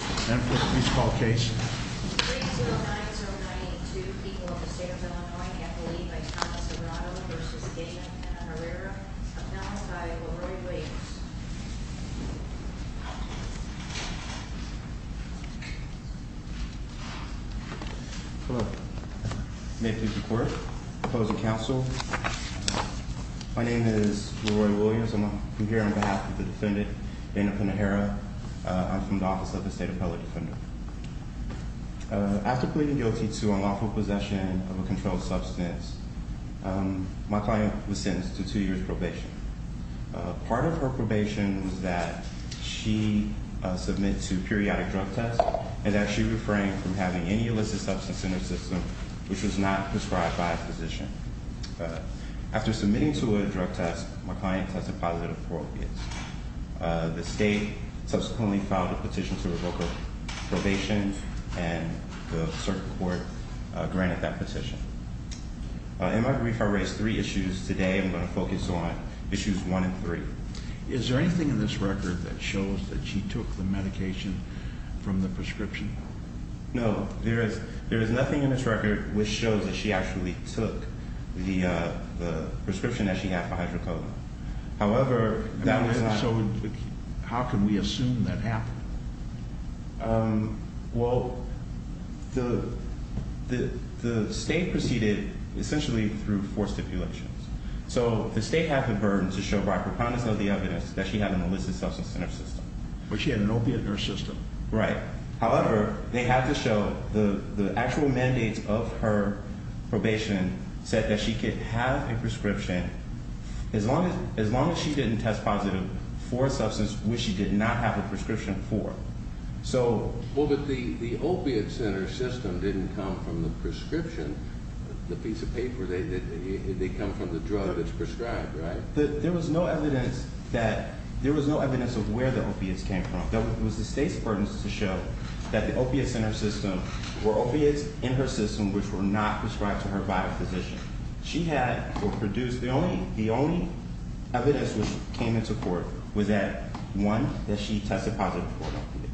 May I please call the case? 3-090982, people of the state of Illinois, affiliated by Thomas Obrado v. Dana Penaherrera, announced by Leroy Williams. Hello. May I please report? Opposing counsel? My name is Leroy Williams. I'm here on behalf of the defendant, Dana Penaherrera. I'm from the Office of the State Appellate Defender. After pleading guilty to unlawful possession of a controlled substance, my client was sentenced to two years probation. Part of her probation was that she submit to periodic drug tests and that she refrain from having any illicit substance in her system which was not prescribed by a physician. After submitting to a drug test, my client tested positive for opiates. The state subsequently filed a petition to revoke her probation and the circuit court granted that petition. In my brief, I raised three issues. Today I'm going to focus on issues one and three. Is there anything in this record that shows that she took the medication from the prescription? No, there is nothing in this record which shows that she actually took the prescription that she had for hydrocodone. However, that was not... So how can we assume that happened? Well, the state proceeded essentially through four stipulations. So the state had the burden to show by preponderance of the evidence that she had an illicit substance in her system. But she had an opiate in her system. Right. However, they had to show the actual mandates of her probation said that she could have a prescription as long as she didn't test positive for a substance which she did not have a prescription for. Well, but the opiate center system didn't come from the prescription. The piece of paper, they come from the drug that's prescribed, right? There was no evidence that... There was no evidence of where the opiates came from. It was the state's burden to show that the opiates in her system were opiates in her system which were not prescribed to her by a physician. The only evidence that came into court was that one, that she tested positive for an opiate.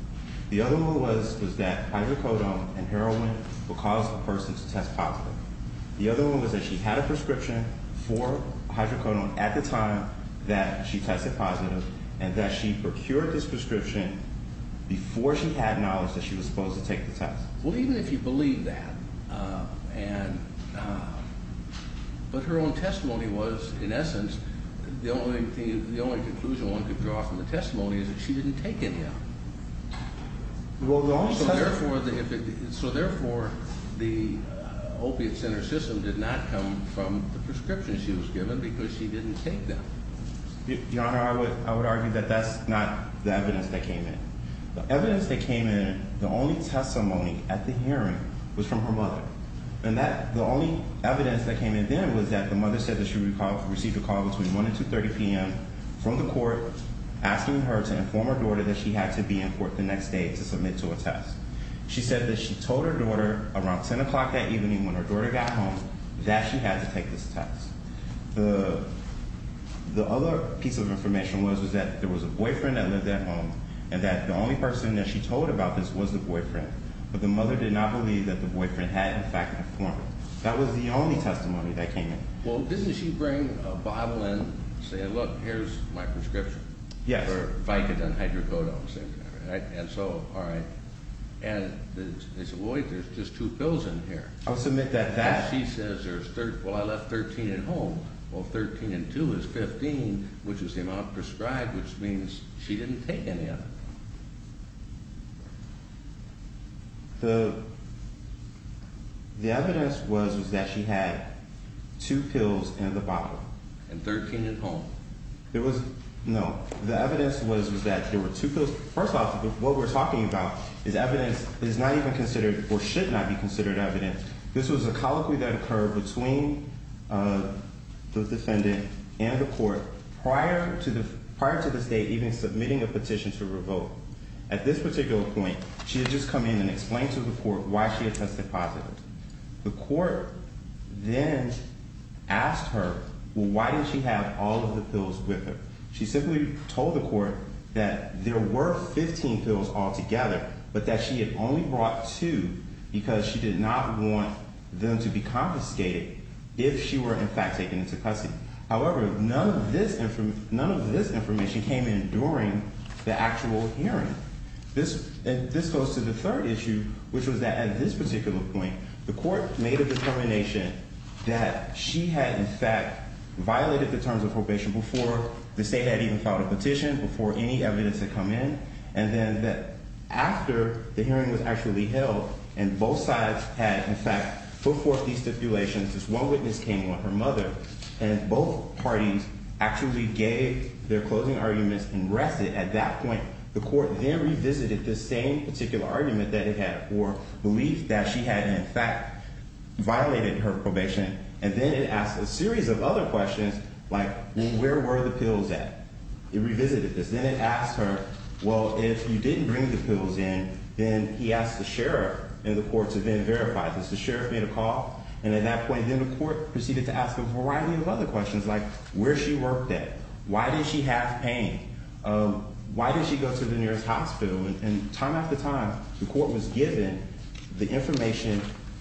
The other one was that hydrocodone and heroin would cause a person to test positive. The other one was that she had a prescription for hydrocodone at the time that she tested positive and that she procured this prescription before she had knowledge that she was supposed to take the test. Well, even if you believe that and... But her own testimony was, in essence, the only conclusion one could draw from the testimony is that she didn't take any of them. So therefore, the opiate center system did not come from the prescription she was given because she didn't take them. Your Honor, I would argue that that's not the evidence that came in. The evidence that came in, the only testimony at the hearing was from her mother. And the only evidence that came in then was that the mother said that she received a call between 1 and 2.30 p.m. from the court asking her to inform her daughter that she had to be in court the next day to submit to a test. She said that she told her daughter around 10 o'clock that evening when her daughter got home that she had to take this test. The other piece of information was that there was a boyfriend that lived at home and that the only person that she told about this was the boyfriend. But the mother did not believe that the boyfriend had, in fact, informed her. That was the only testimony that came in. Well, didn't she bring a bottle and say, look, here's my prescription? Yes. For Vicodin and Hydrocodone. And so, all right. And they said, wait, there's just two pills in here. I'll submit that that... She says, well, I left 13 at home. Well, 13 and 2 is 15, which is the amount prescribed, which means she didn't take any of it. The evidence was that she had two pills in the bottle. And 13 at home. No. The evidence was that there were two pills. First off, what we're talking about is evidence that is not even considered or should not be considered evidence. This was a colloquy that occurred between the defendant and the court prior to the state even submitting a petition to revoke. At this particular point, she had just come in and explained to the court why she had tested positive. The court then asked her, well, why did she have all of the pills with her? She simply told the court that there were 15 pills altogether, but that she had only brought two because she did not want them to be confiscated if she were, in fact, taken into custody. However, none of this information came in during the actual hearing. This goes to the third issue, which was that at this particular point, the court made a determination that she had, in fact, violated the terms of probation before the state had even filed a petition, before any evidence had come in, and then that after the hearing was actually held and both sides had, in fact, put forth these stipulations, this one witness came on, her mother, and both parties actually gave their closing arguments and rested. At that point, the court then revisited this same particular argument that it had for belief that she had, in fact, violated her probation, and then it asked a series of other questions like where were the pills at? It revisited this. Then it asked her, well, if you didn't bring the pills in, then he asked the sheriff in the court to then verify this. The sheriff made a call, and at that point, then the court proceeded to ask a variety of other questions like where she worked at, why did she have pain, why did she go to the nearest hospital, and time after time, the court was given the information,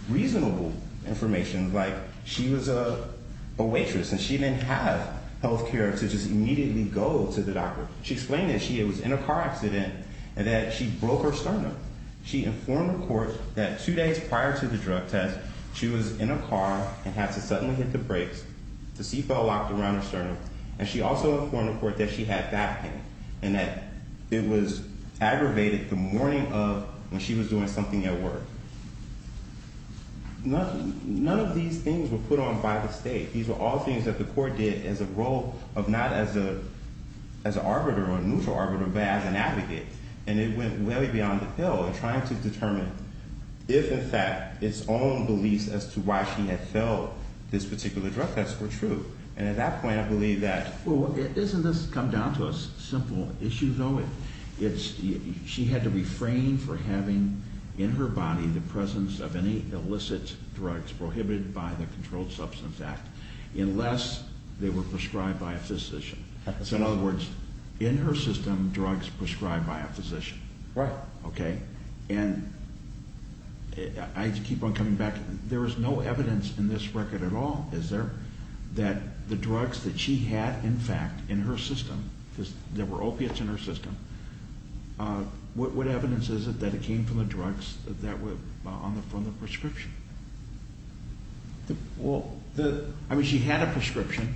reasonable information, like she was a waitress and she didn't have health care to just immediately go to the doctor. She explained that she was in a car accident and that she broke her sternum. She informed the court that two days prior to the drug test, she was in a car and had to suddenly hit the brakes, the seat belt locked around her sternum, and she also informed the court that she had back pain and that it was aggravated the morning of when she was doing something at work. None of these things were put on by the state. These were all things that the court did as a role of not as an arbiter or a neutral arbiter, but as an advocate, and it went way beyond the pill in trying to determine if, in fact, its own beliefs as to why she had fell this particular drug test were true. And at that point, I believe that... Well, isn't this come down to a simple issue, though? It's she had to refrain from having in her body the presence of any illicit drugs prohibited by the Controlled Substance Act unless they were prescribed by a physician. In other words, in her system, drugs prescribed by a physician. Right. Okay, and I keep on coming back. There is no evidence in this record at all, is there, that the drugs that she had, in fact, in her system, because there were opiates in her system, what evidence is it that it came from the drugs that were on the prescription? Well, the... I mean, she had a prescription.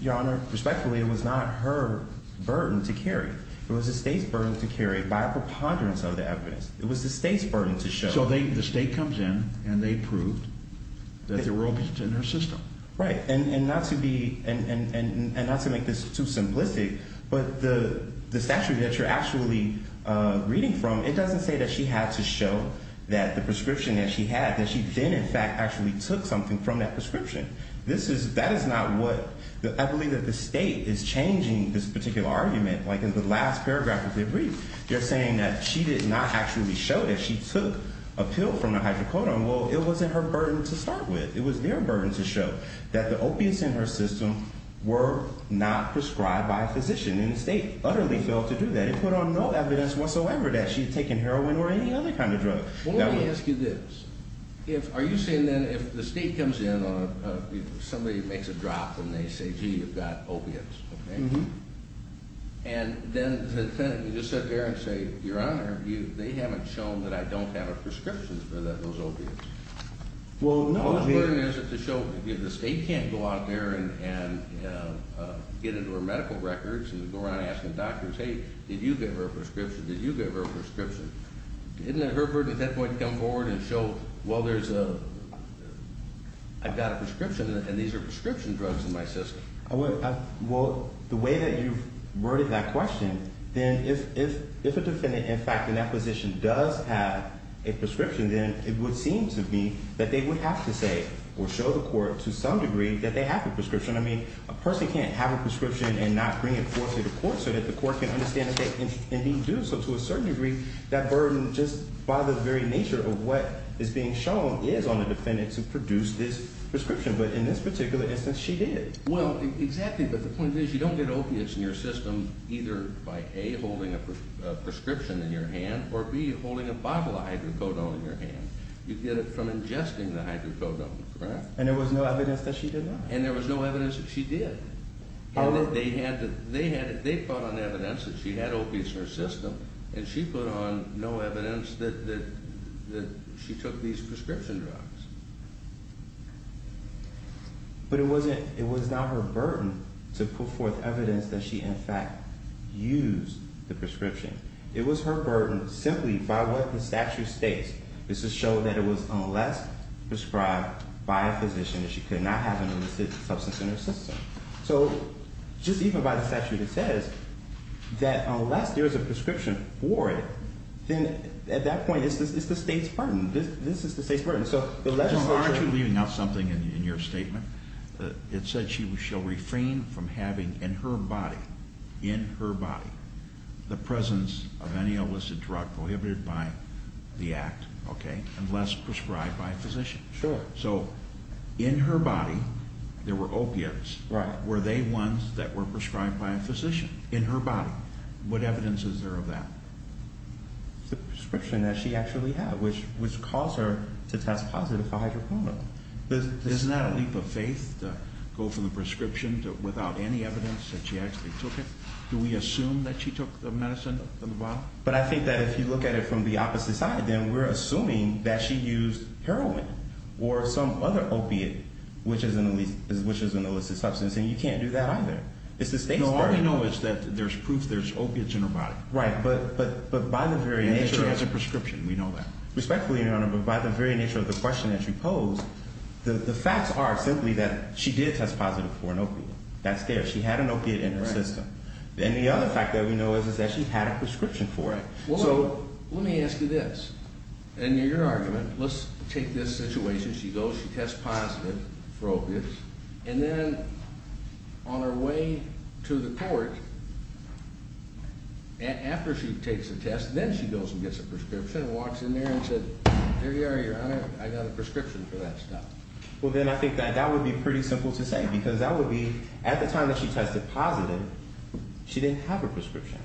Your Honor, respectfully, it was not her burden to carry. It was the state's burden to carry by a preponderance of the evidence. It was the state's burden to show. So the state comes in, and they prove that there were opiates in her system. Right, and not to make this too simplistic, but the statute that you're actually reading from, it doesn't say that she had to show that the prescription that she had, that she then, in fact, actually took something from that prescription. That is not what... I believe that the state is changing this particular argument. Like, in the last paragraph of the brief, you're saying that she did not actually show that she took a pill from the hydrocodone. Well, it wasn't her burden to start with. It was their burden to show that the opiates in her system were not prescribed by a physician, and the state utterly failed to do that. It put on no evidence whatsoever that she had taken heroin or any other kind of drug. Well, let me ask you this. Are you saying, then, if the state comes in, somebody makes a drop, and they say, gee, you've got opiates, okay? Mm-hmm. And then you just sit there and say, Your Honor, they haven't shown that I don't have a prescription for those opiates. Well, no, here... The state can't go out there and get into her medical records and go around asking doctors, hey, did you give her a prescription? Did you give her a prescription? Isn't it her burden at that point to come forward and show, well, there's a... I've got a prescription, and these are prescription drugs in my system. Well, the way that you've worded that question, then if a defendant, in fact, in that position does have a prescription, then it would seem to me that they would have to say or show the court to some degree that they have a prescription. I mean, a person can't have a prescription and not bring it forth to the court so that the court can understand that they indeed do. So to a certain degree, that burden just bothers the very nature of what is being shown is on the defendant to produce this prescription. But in this particular instance, she did. Well, exactly, but the point is, you don't get opiates in your system either by, A, holding a prescription in your hand, or, B, holding a bottle of hydrocodone in your hand. You get it from ingesting the hydrocodone, correct? And there was no evidence that she did that. And there was no evidence that she did. They had... They put on evidence that she had opiates in her system, and she put on no evidence that she took these prescription drugs. But it wasn't... It was not her burden to put forth evidence that she, in fact, used the prescription. It was her burden simply by what the statute states is to show that it was unless prescribed by a physician that she could not have an illicit substance in her system. So just even by the statute, it says that unless there is a prescription for it, then at that point, it's the state's burden. This is the state's burden. So the legislature... John, aren't you leaving out something in your statement? It said she shall refrain from having in her body, in her body, the presence of any illicit drug prohibited by the Act, okay, unless prescribed by a physician. Sure. So in her body, there were opiates. Right. Were they ones that were prescribed by a physician in her body? What evidence is there of that? The prescription that she actually had, which caused her to test positive for hydroponia. But this is not a leap of faith to go from the prescription without any evidence that she actually took it. Do we assume that she took the medicine in the bottle? But I think that if you look at it from the opposite side, then we're assuming that she used heroin or some other opiate which is an illicit substance, and you can't do that either. It's the state's burden. No, all we know is that there's proof there's opiates in her body. Right. But by the very nature... And she has a prescription. We know that. Respectfully, Your Honor, but by the very nature of the question that you pose, the facts are simply that she did test positive for an opiate. That's there. She had an opiate in her system. And the other fact that we know is that she had a prescription for it. So let me ask you this. In your argument, let's take this situation. She goes, she tests positive for opiates, and then on her way to the court, after she takes the test, then she goes and gets a prescription and walks in there and says, There you are, Your Honor, I got a prescription for that stuff. Well, then I think that that would be pretty simple to say because that would be at the time that she tested positive, she didn't have her prescription.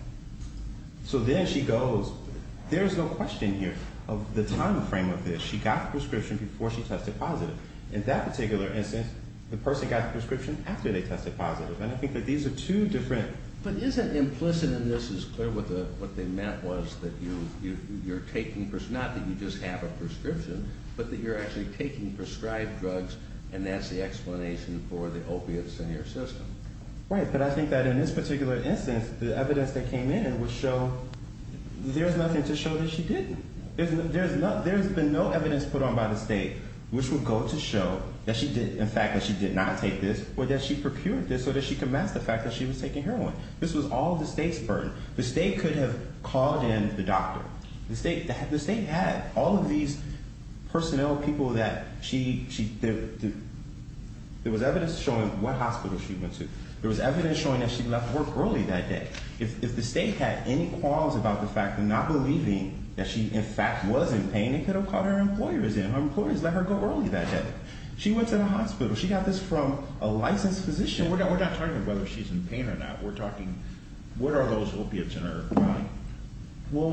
So then she goes, there's no question here of the time frame of this. She got the prescription before she tested positive. In that particular instance, the person got the prescription after they tested positive. And I think that these are two different. But isn't implicit in this as clear what they meant was that you're taking, not that you just have a prescription, but that you're actually taking prescribed drugs, and that's the explanation for the opiates in your system? Right. But I think that in this particular instance, the evidence that came in would show there's nothing to show that she didn't. There's been no evidence put on by the state which would go to show that she did, in fact, that she did not take this, or that she procured this so that she could mask the fact that she was taking heroin. This was all the state's burden. The state could have called in the doctor. The state had all of these personnel, people that she did. There was evidence showing what hospital she went to. There was evidence showing that she left work early that day. If the state had any qualms about the fact, not believing that she, in fact, was in pain, they could have called her employers in. Her employers let her go early that day. She went to the hospital. She got this from a licensed physician. We're not talking about whether she's in pain or not. We're talking what are those opiates in her body.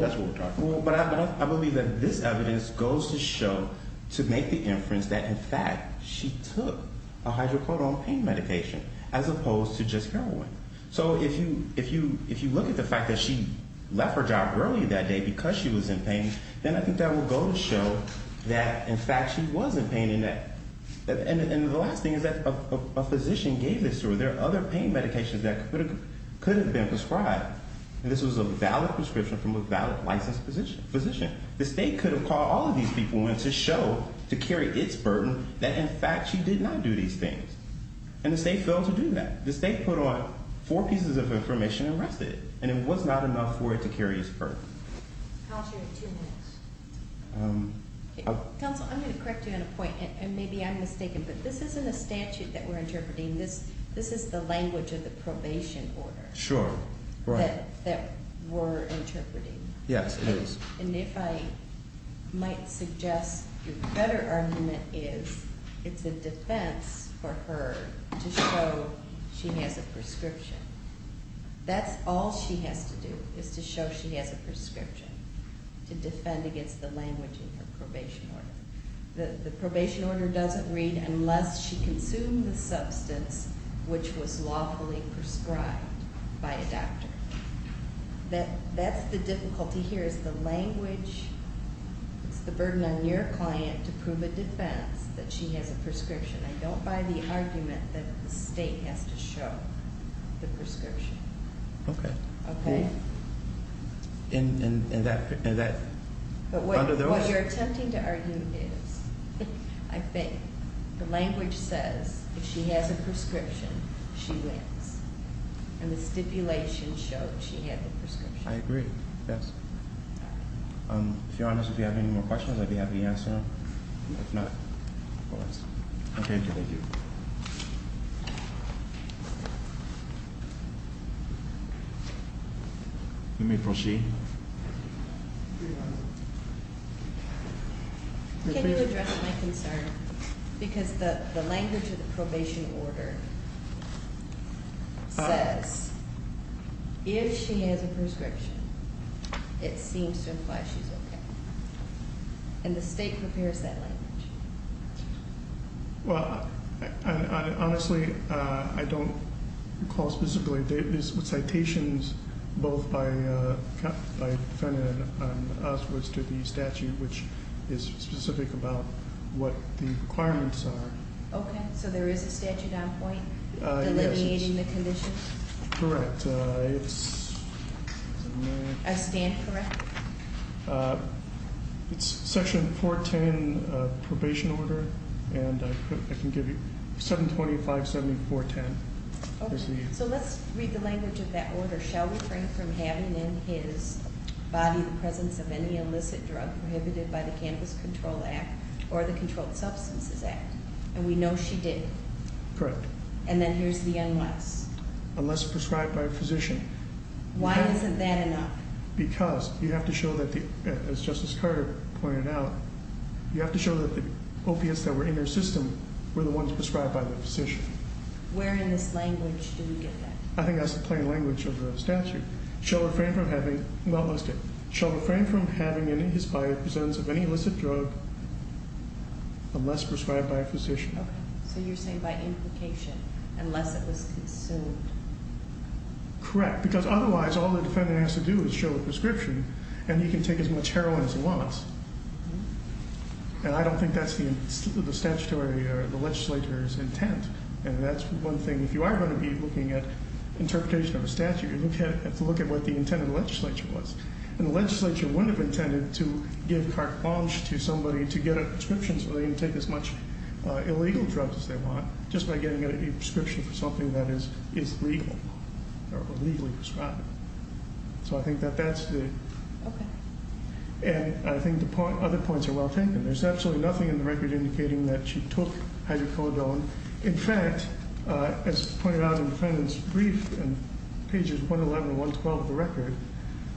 That's what we're talking about. But I believe that this evidence goes to show, to make the inference, that, in fact, she took a hydrocodone pain medication as opposed to just heroin. So if you look at the fact that she left her job early that day because she was in pain, then I think that will go to show that, in fact, she was in pain. And the last thing is that a physician gave this to her. There are other pain medications that could have been prescribed. And this was a valid prescription from a valid licensed physician. The state could have called all of these people in to show, to carry its burden, that, in fact, she did not do these things. And the state failed to do that. The state put on four pieces of information and rested. And it was not enough for it to carry its burden. Counsel, you have two minutes. Counsel, I'm going to correct you on a point, and maybe I'm mistaken, but this isn't a statute that we're interpreting. This is the language of the probation order that we're interpreting. Yes, it is. And if I might suggest a better argument is it's a defense for her to show she has a prescription. That's all she has to do is to show she has a prescription to defend against the language in her probation order. The probation order doesn't read, unless she consumed the substance which was lawfully prescribed by a doctor. That's the difficulty here is the language. It's the burden on your client to prove a defense that she has a prescription. I don't buy the argument that the state has to show the prescription. But what you're attempting to argue is, I think, the language says if she has a prescription, she wins, and the stipulation shows she had the prescription. I agree, yes. If you're honest with me, do you have any more questions? I'd be happy to answer them. If not, go ahead. Okay, thank you. Let me proceed. Can you address my concern? Because the language of the probation order says if she has a prescription, it seems to imply she's okay. And the state prepares that language. Well, honestly, I don't recall specifically. There's citations both by defendant and us to the statute, which is specific about what the requirements are. Okay, so there is a statute on point delineating the conditions? Correct. A stand correct? It's Section 410 probation order, and I can give you 725.7410. Okay, so let's read the language of that order. Shall refrain from having in his body the presence of any illicit drug prohibited by the Cannabis Control Act or the Controlled Substances Act. And we know she didn't. Correct. And then here's the unless. Unless prescribed by a physician. Why isn't that enough? Because you have to show that, as Justice Carter pointed out, you have to show that the opiates that were in their system were the ones prescribed by the physician. Where in this language do we get that? I think that's the plain language of the statute. Shall refrain from having in his body the presence of any illicit drug unless prescribed by a physician. Okay, so you're saying by implication, unless it was consumed. Correct, because otherwise all the defendant has to do is show a prescription and he can take as much heroin as he wants. And I don't think that's the statutory or the legislature's intent. And that's one thing. If you are going to be looking at interpretation of a statute, you have to look at what the intent of the legislature was. And the legislature wouldn't have intended to give carte blanche to somebody to get a prescription so they can take as much illegal drugs as they want just by getting a prescription for something that is legal or legally prescribed. So I think that that's the... Okay. And I think the other points are well taken. There's absolutely nothing in the record indicating that she took hydrocodone. In fact, as pointed out in the defendant's brief in pages 111 and 112 of the record,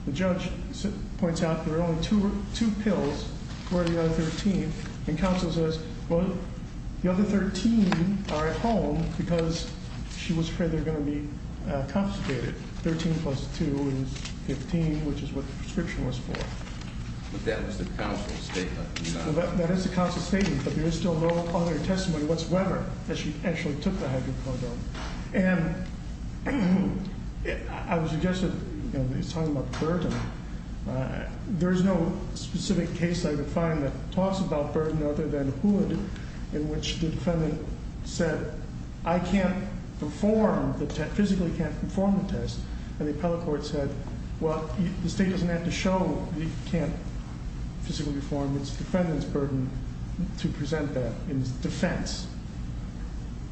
the judge points out there are only two pills for the other 13, and counsel says, well, the other 13 are at home because she was afraid they were going to be confiscated. Thirteen plus two is 15, which is what the prescription was for. But that was the counsel's statement. That is the counsel's statement, but there is still no other testimony whatsoever that she actually took the hydrocodone. And I would suggest that, you know, he's talking about Burton. There is no specific case I could find that talks about Burton other than Hood in which the defendant said, I can't perform the test, physically can't perform the test. And the appellate court said, well, the state doesn't have to show you can't physically perform. It's the defendant's burden to present that in his defense.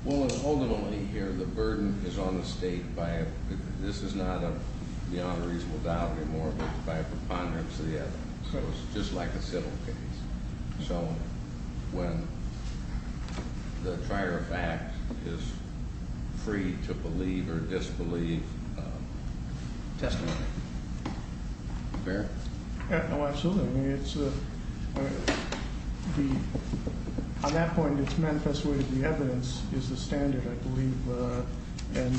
Well, ultimately here the burden is on the state. This is not beyond a reasonable doubt anymore, but by a preponderance of the evidence. So it's just like a civil case. So when the prior fact is free to believe or disbelieve, testimony. Fair? Oh, absolutely. On that point, it's manifest way that the evidence is the standard, I believe. And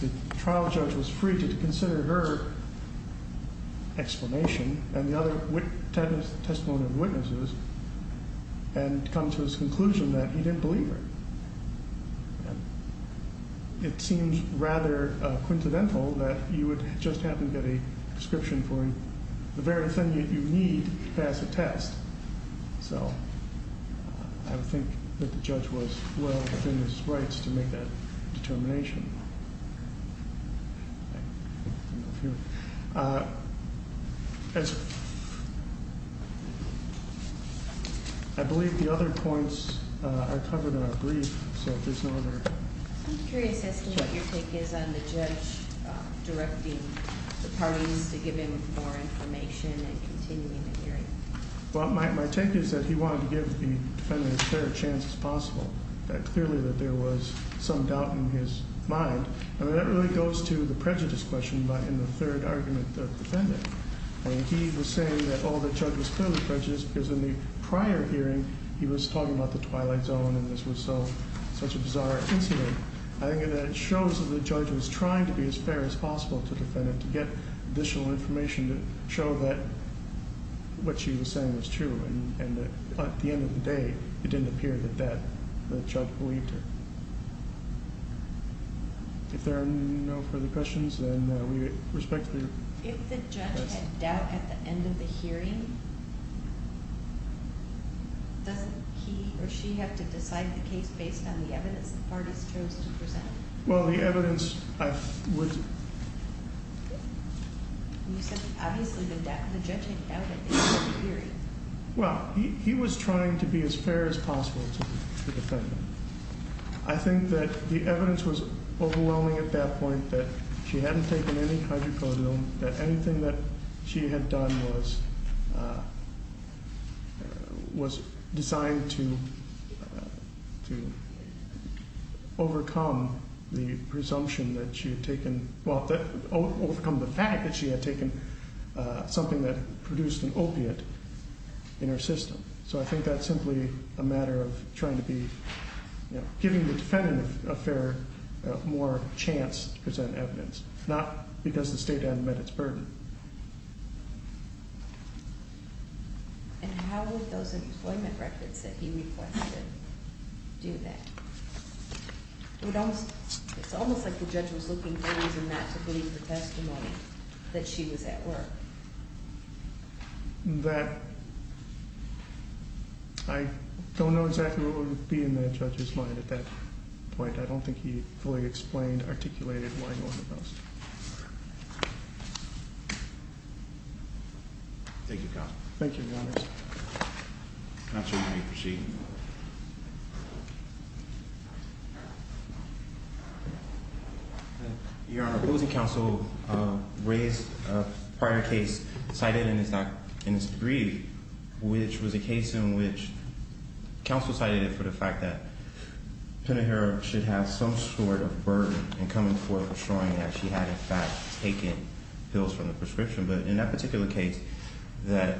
the trial judge was free to consider her explanation and the other testimonial witnesses and come to his conclusion that he didn't believe her. It seems rather coincidental that you would just happen to get a description for him. The very thing that you need to pass a test. So I would think that the judge was well within his rights to make that determination. I believe the other points are covered in our brief, so if there's no other- I'm curious as to what your take is on the judge directing the parties to give him more information and continuing the hearing. Well, my take is that he wanted to give the defendant as fair a chance as possible, that clearly that there was some doubt in his mind. And that really goes to the prejudice question in the third argument of the defendant. And he was saying that, oh, the judge was clearly prejudiced because in the prior hearing, he was talking about the twilight zone and this was such a bizarre incident. I think that it shows that the judge was trying to be as fair as possible to the defendant, to get additional information to show that what she was saying was true. And at the end of the day, it didn't appear that the judge believed her. If there are no further questions, then we respectfully request- Does he or she have to decide the case based on the evidence the parties chose to present? Well, the evidence I would- You said obviously the judge had doubted the hearing. Well, he was trying to be as fair as possible to the defendant. I think that the evidence was overwhelming at that point, that she hadn't taken any hydrocodone, that anything that she had done was designed to overcome the presumption that she had taken- well, overcome the fact that she had taken something that produced an opiate in her system. So I think that's simply a matter of trying to be- giving the defendant a fairer, more chance to present evidence, not because the state had met its burden. And how would those employment records that he requested do that? It's almost like the judge was looking for a reason not to believe the testimony that she was at work. That- I don't know exactly what would be in that judge's mind at that point. I don't think he fully explained, articulated why he wanted those. Thank you, counsel. Thank you, your honors. Your honor, opposing counsel raised a prior case cited in this degree, which was a case in which counsel cited it for the fact that Penahir should have some sort of burden in coming forth assuring that she had in fact taken pills from the prescription. But in that particular case that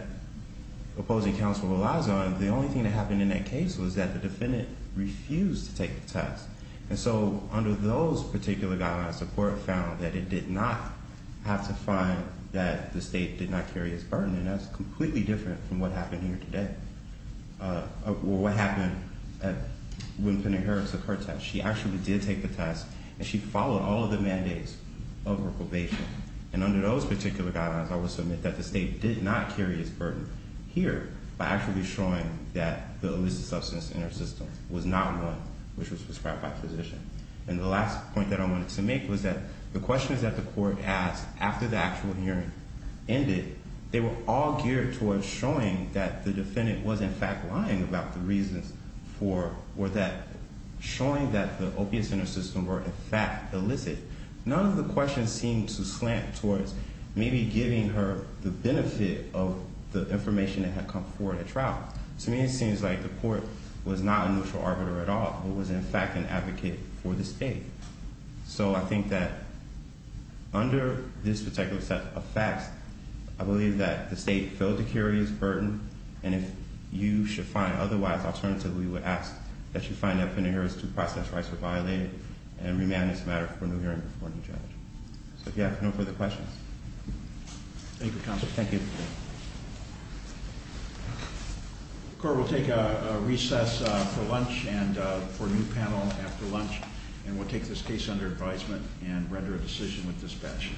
opposing counsel relies on, the only thing that happened in that case was that the defendant refused to take the test. And so under those particular guidelines, the court found that it did not have to find that the state did not carry its burden. And that's completely different from what happened here today. Or what happened when Penahir took her test. She actually did take the test, and she followed all of the mandates of her probation. And under those particular guidelines, I will submit that the state did not carry its burden here by actually showing that the illicit substance in her system was not one which was prescribed by a physician. And the last point that I wanted to make was that the questions that the court asked after the actual hearing ended, they were all geared towards showing that the defendant was in fact lying about the reasons for, or that showing that the opiates in her system were in fact illicit. None of the questions seemed to slant towards maybe giving her the benefit of the information that had come forward at trial. To me it seems like the court was not a neutral arbiter at all, but was in fact an advocate for the state. So I think that under this particular set of facts, I believe that the state filled the carry's burden. And if you should find otherwise, alternatively we would ask that you find that Penahir's due process rights were violated. And remand is a matter for a new hearing before a new judge. So if you have no further questions. Thank you, counsel. Thank you. Thank you. The court will take a recess for lunch and for a new panel after lunch. And we'll take this case under advisement and render a decision with dispatch.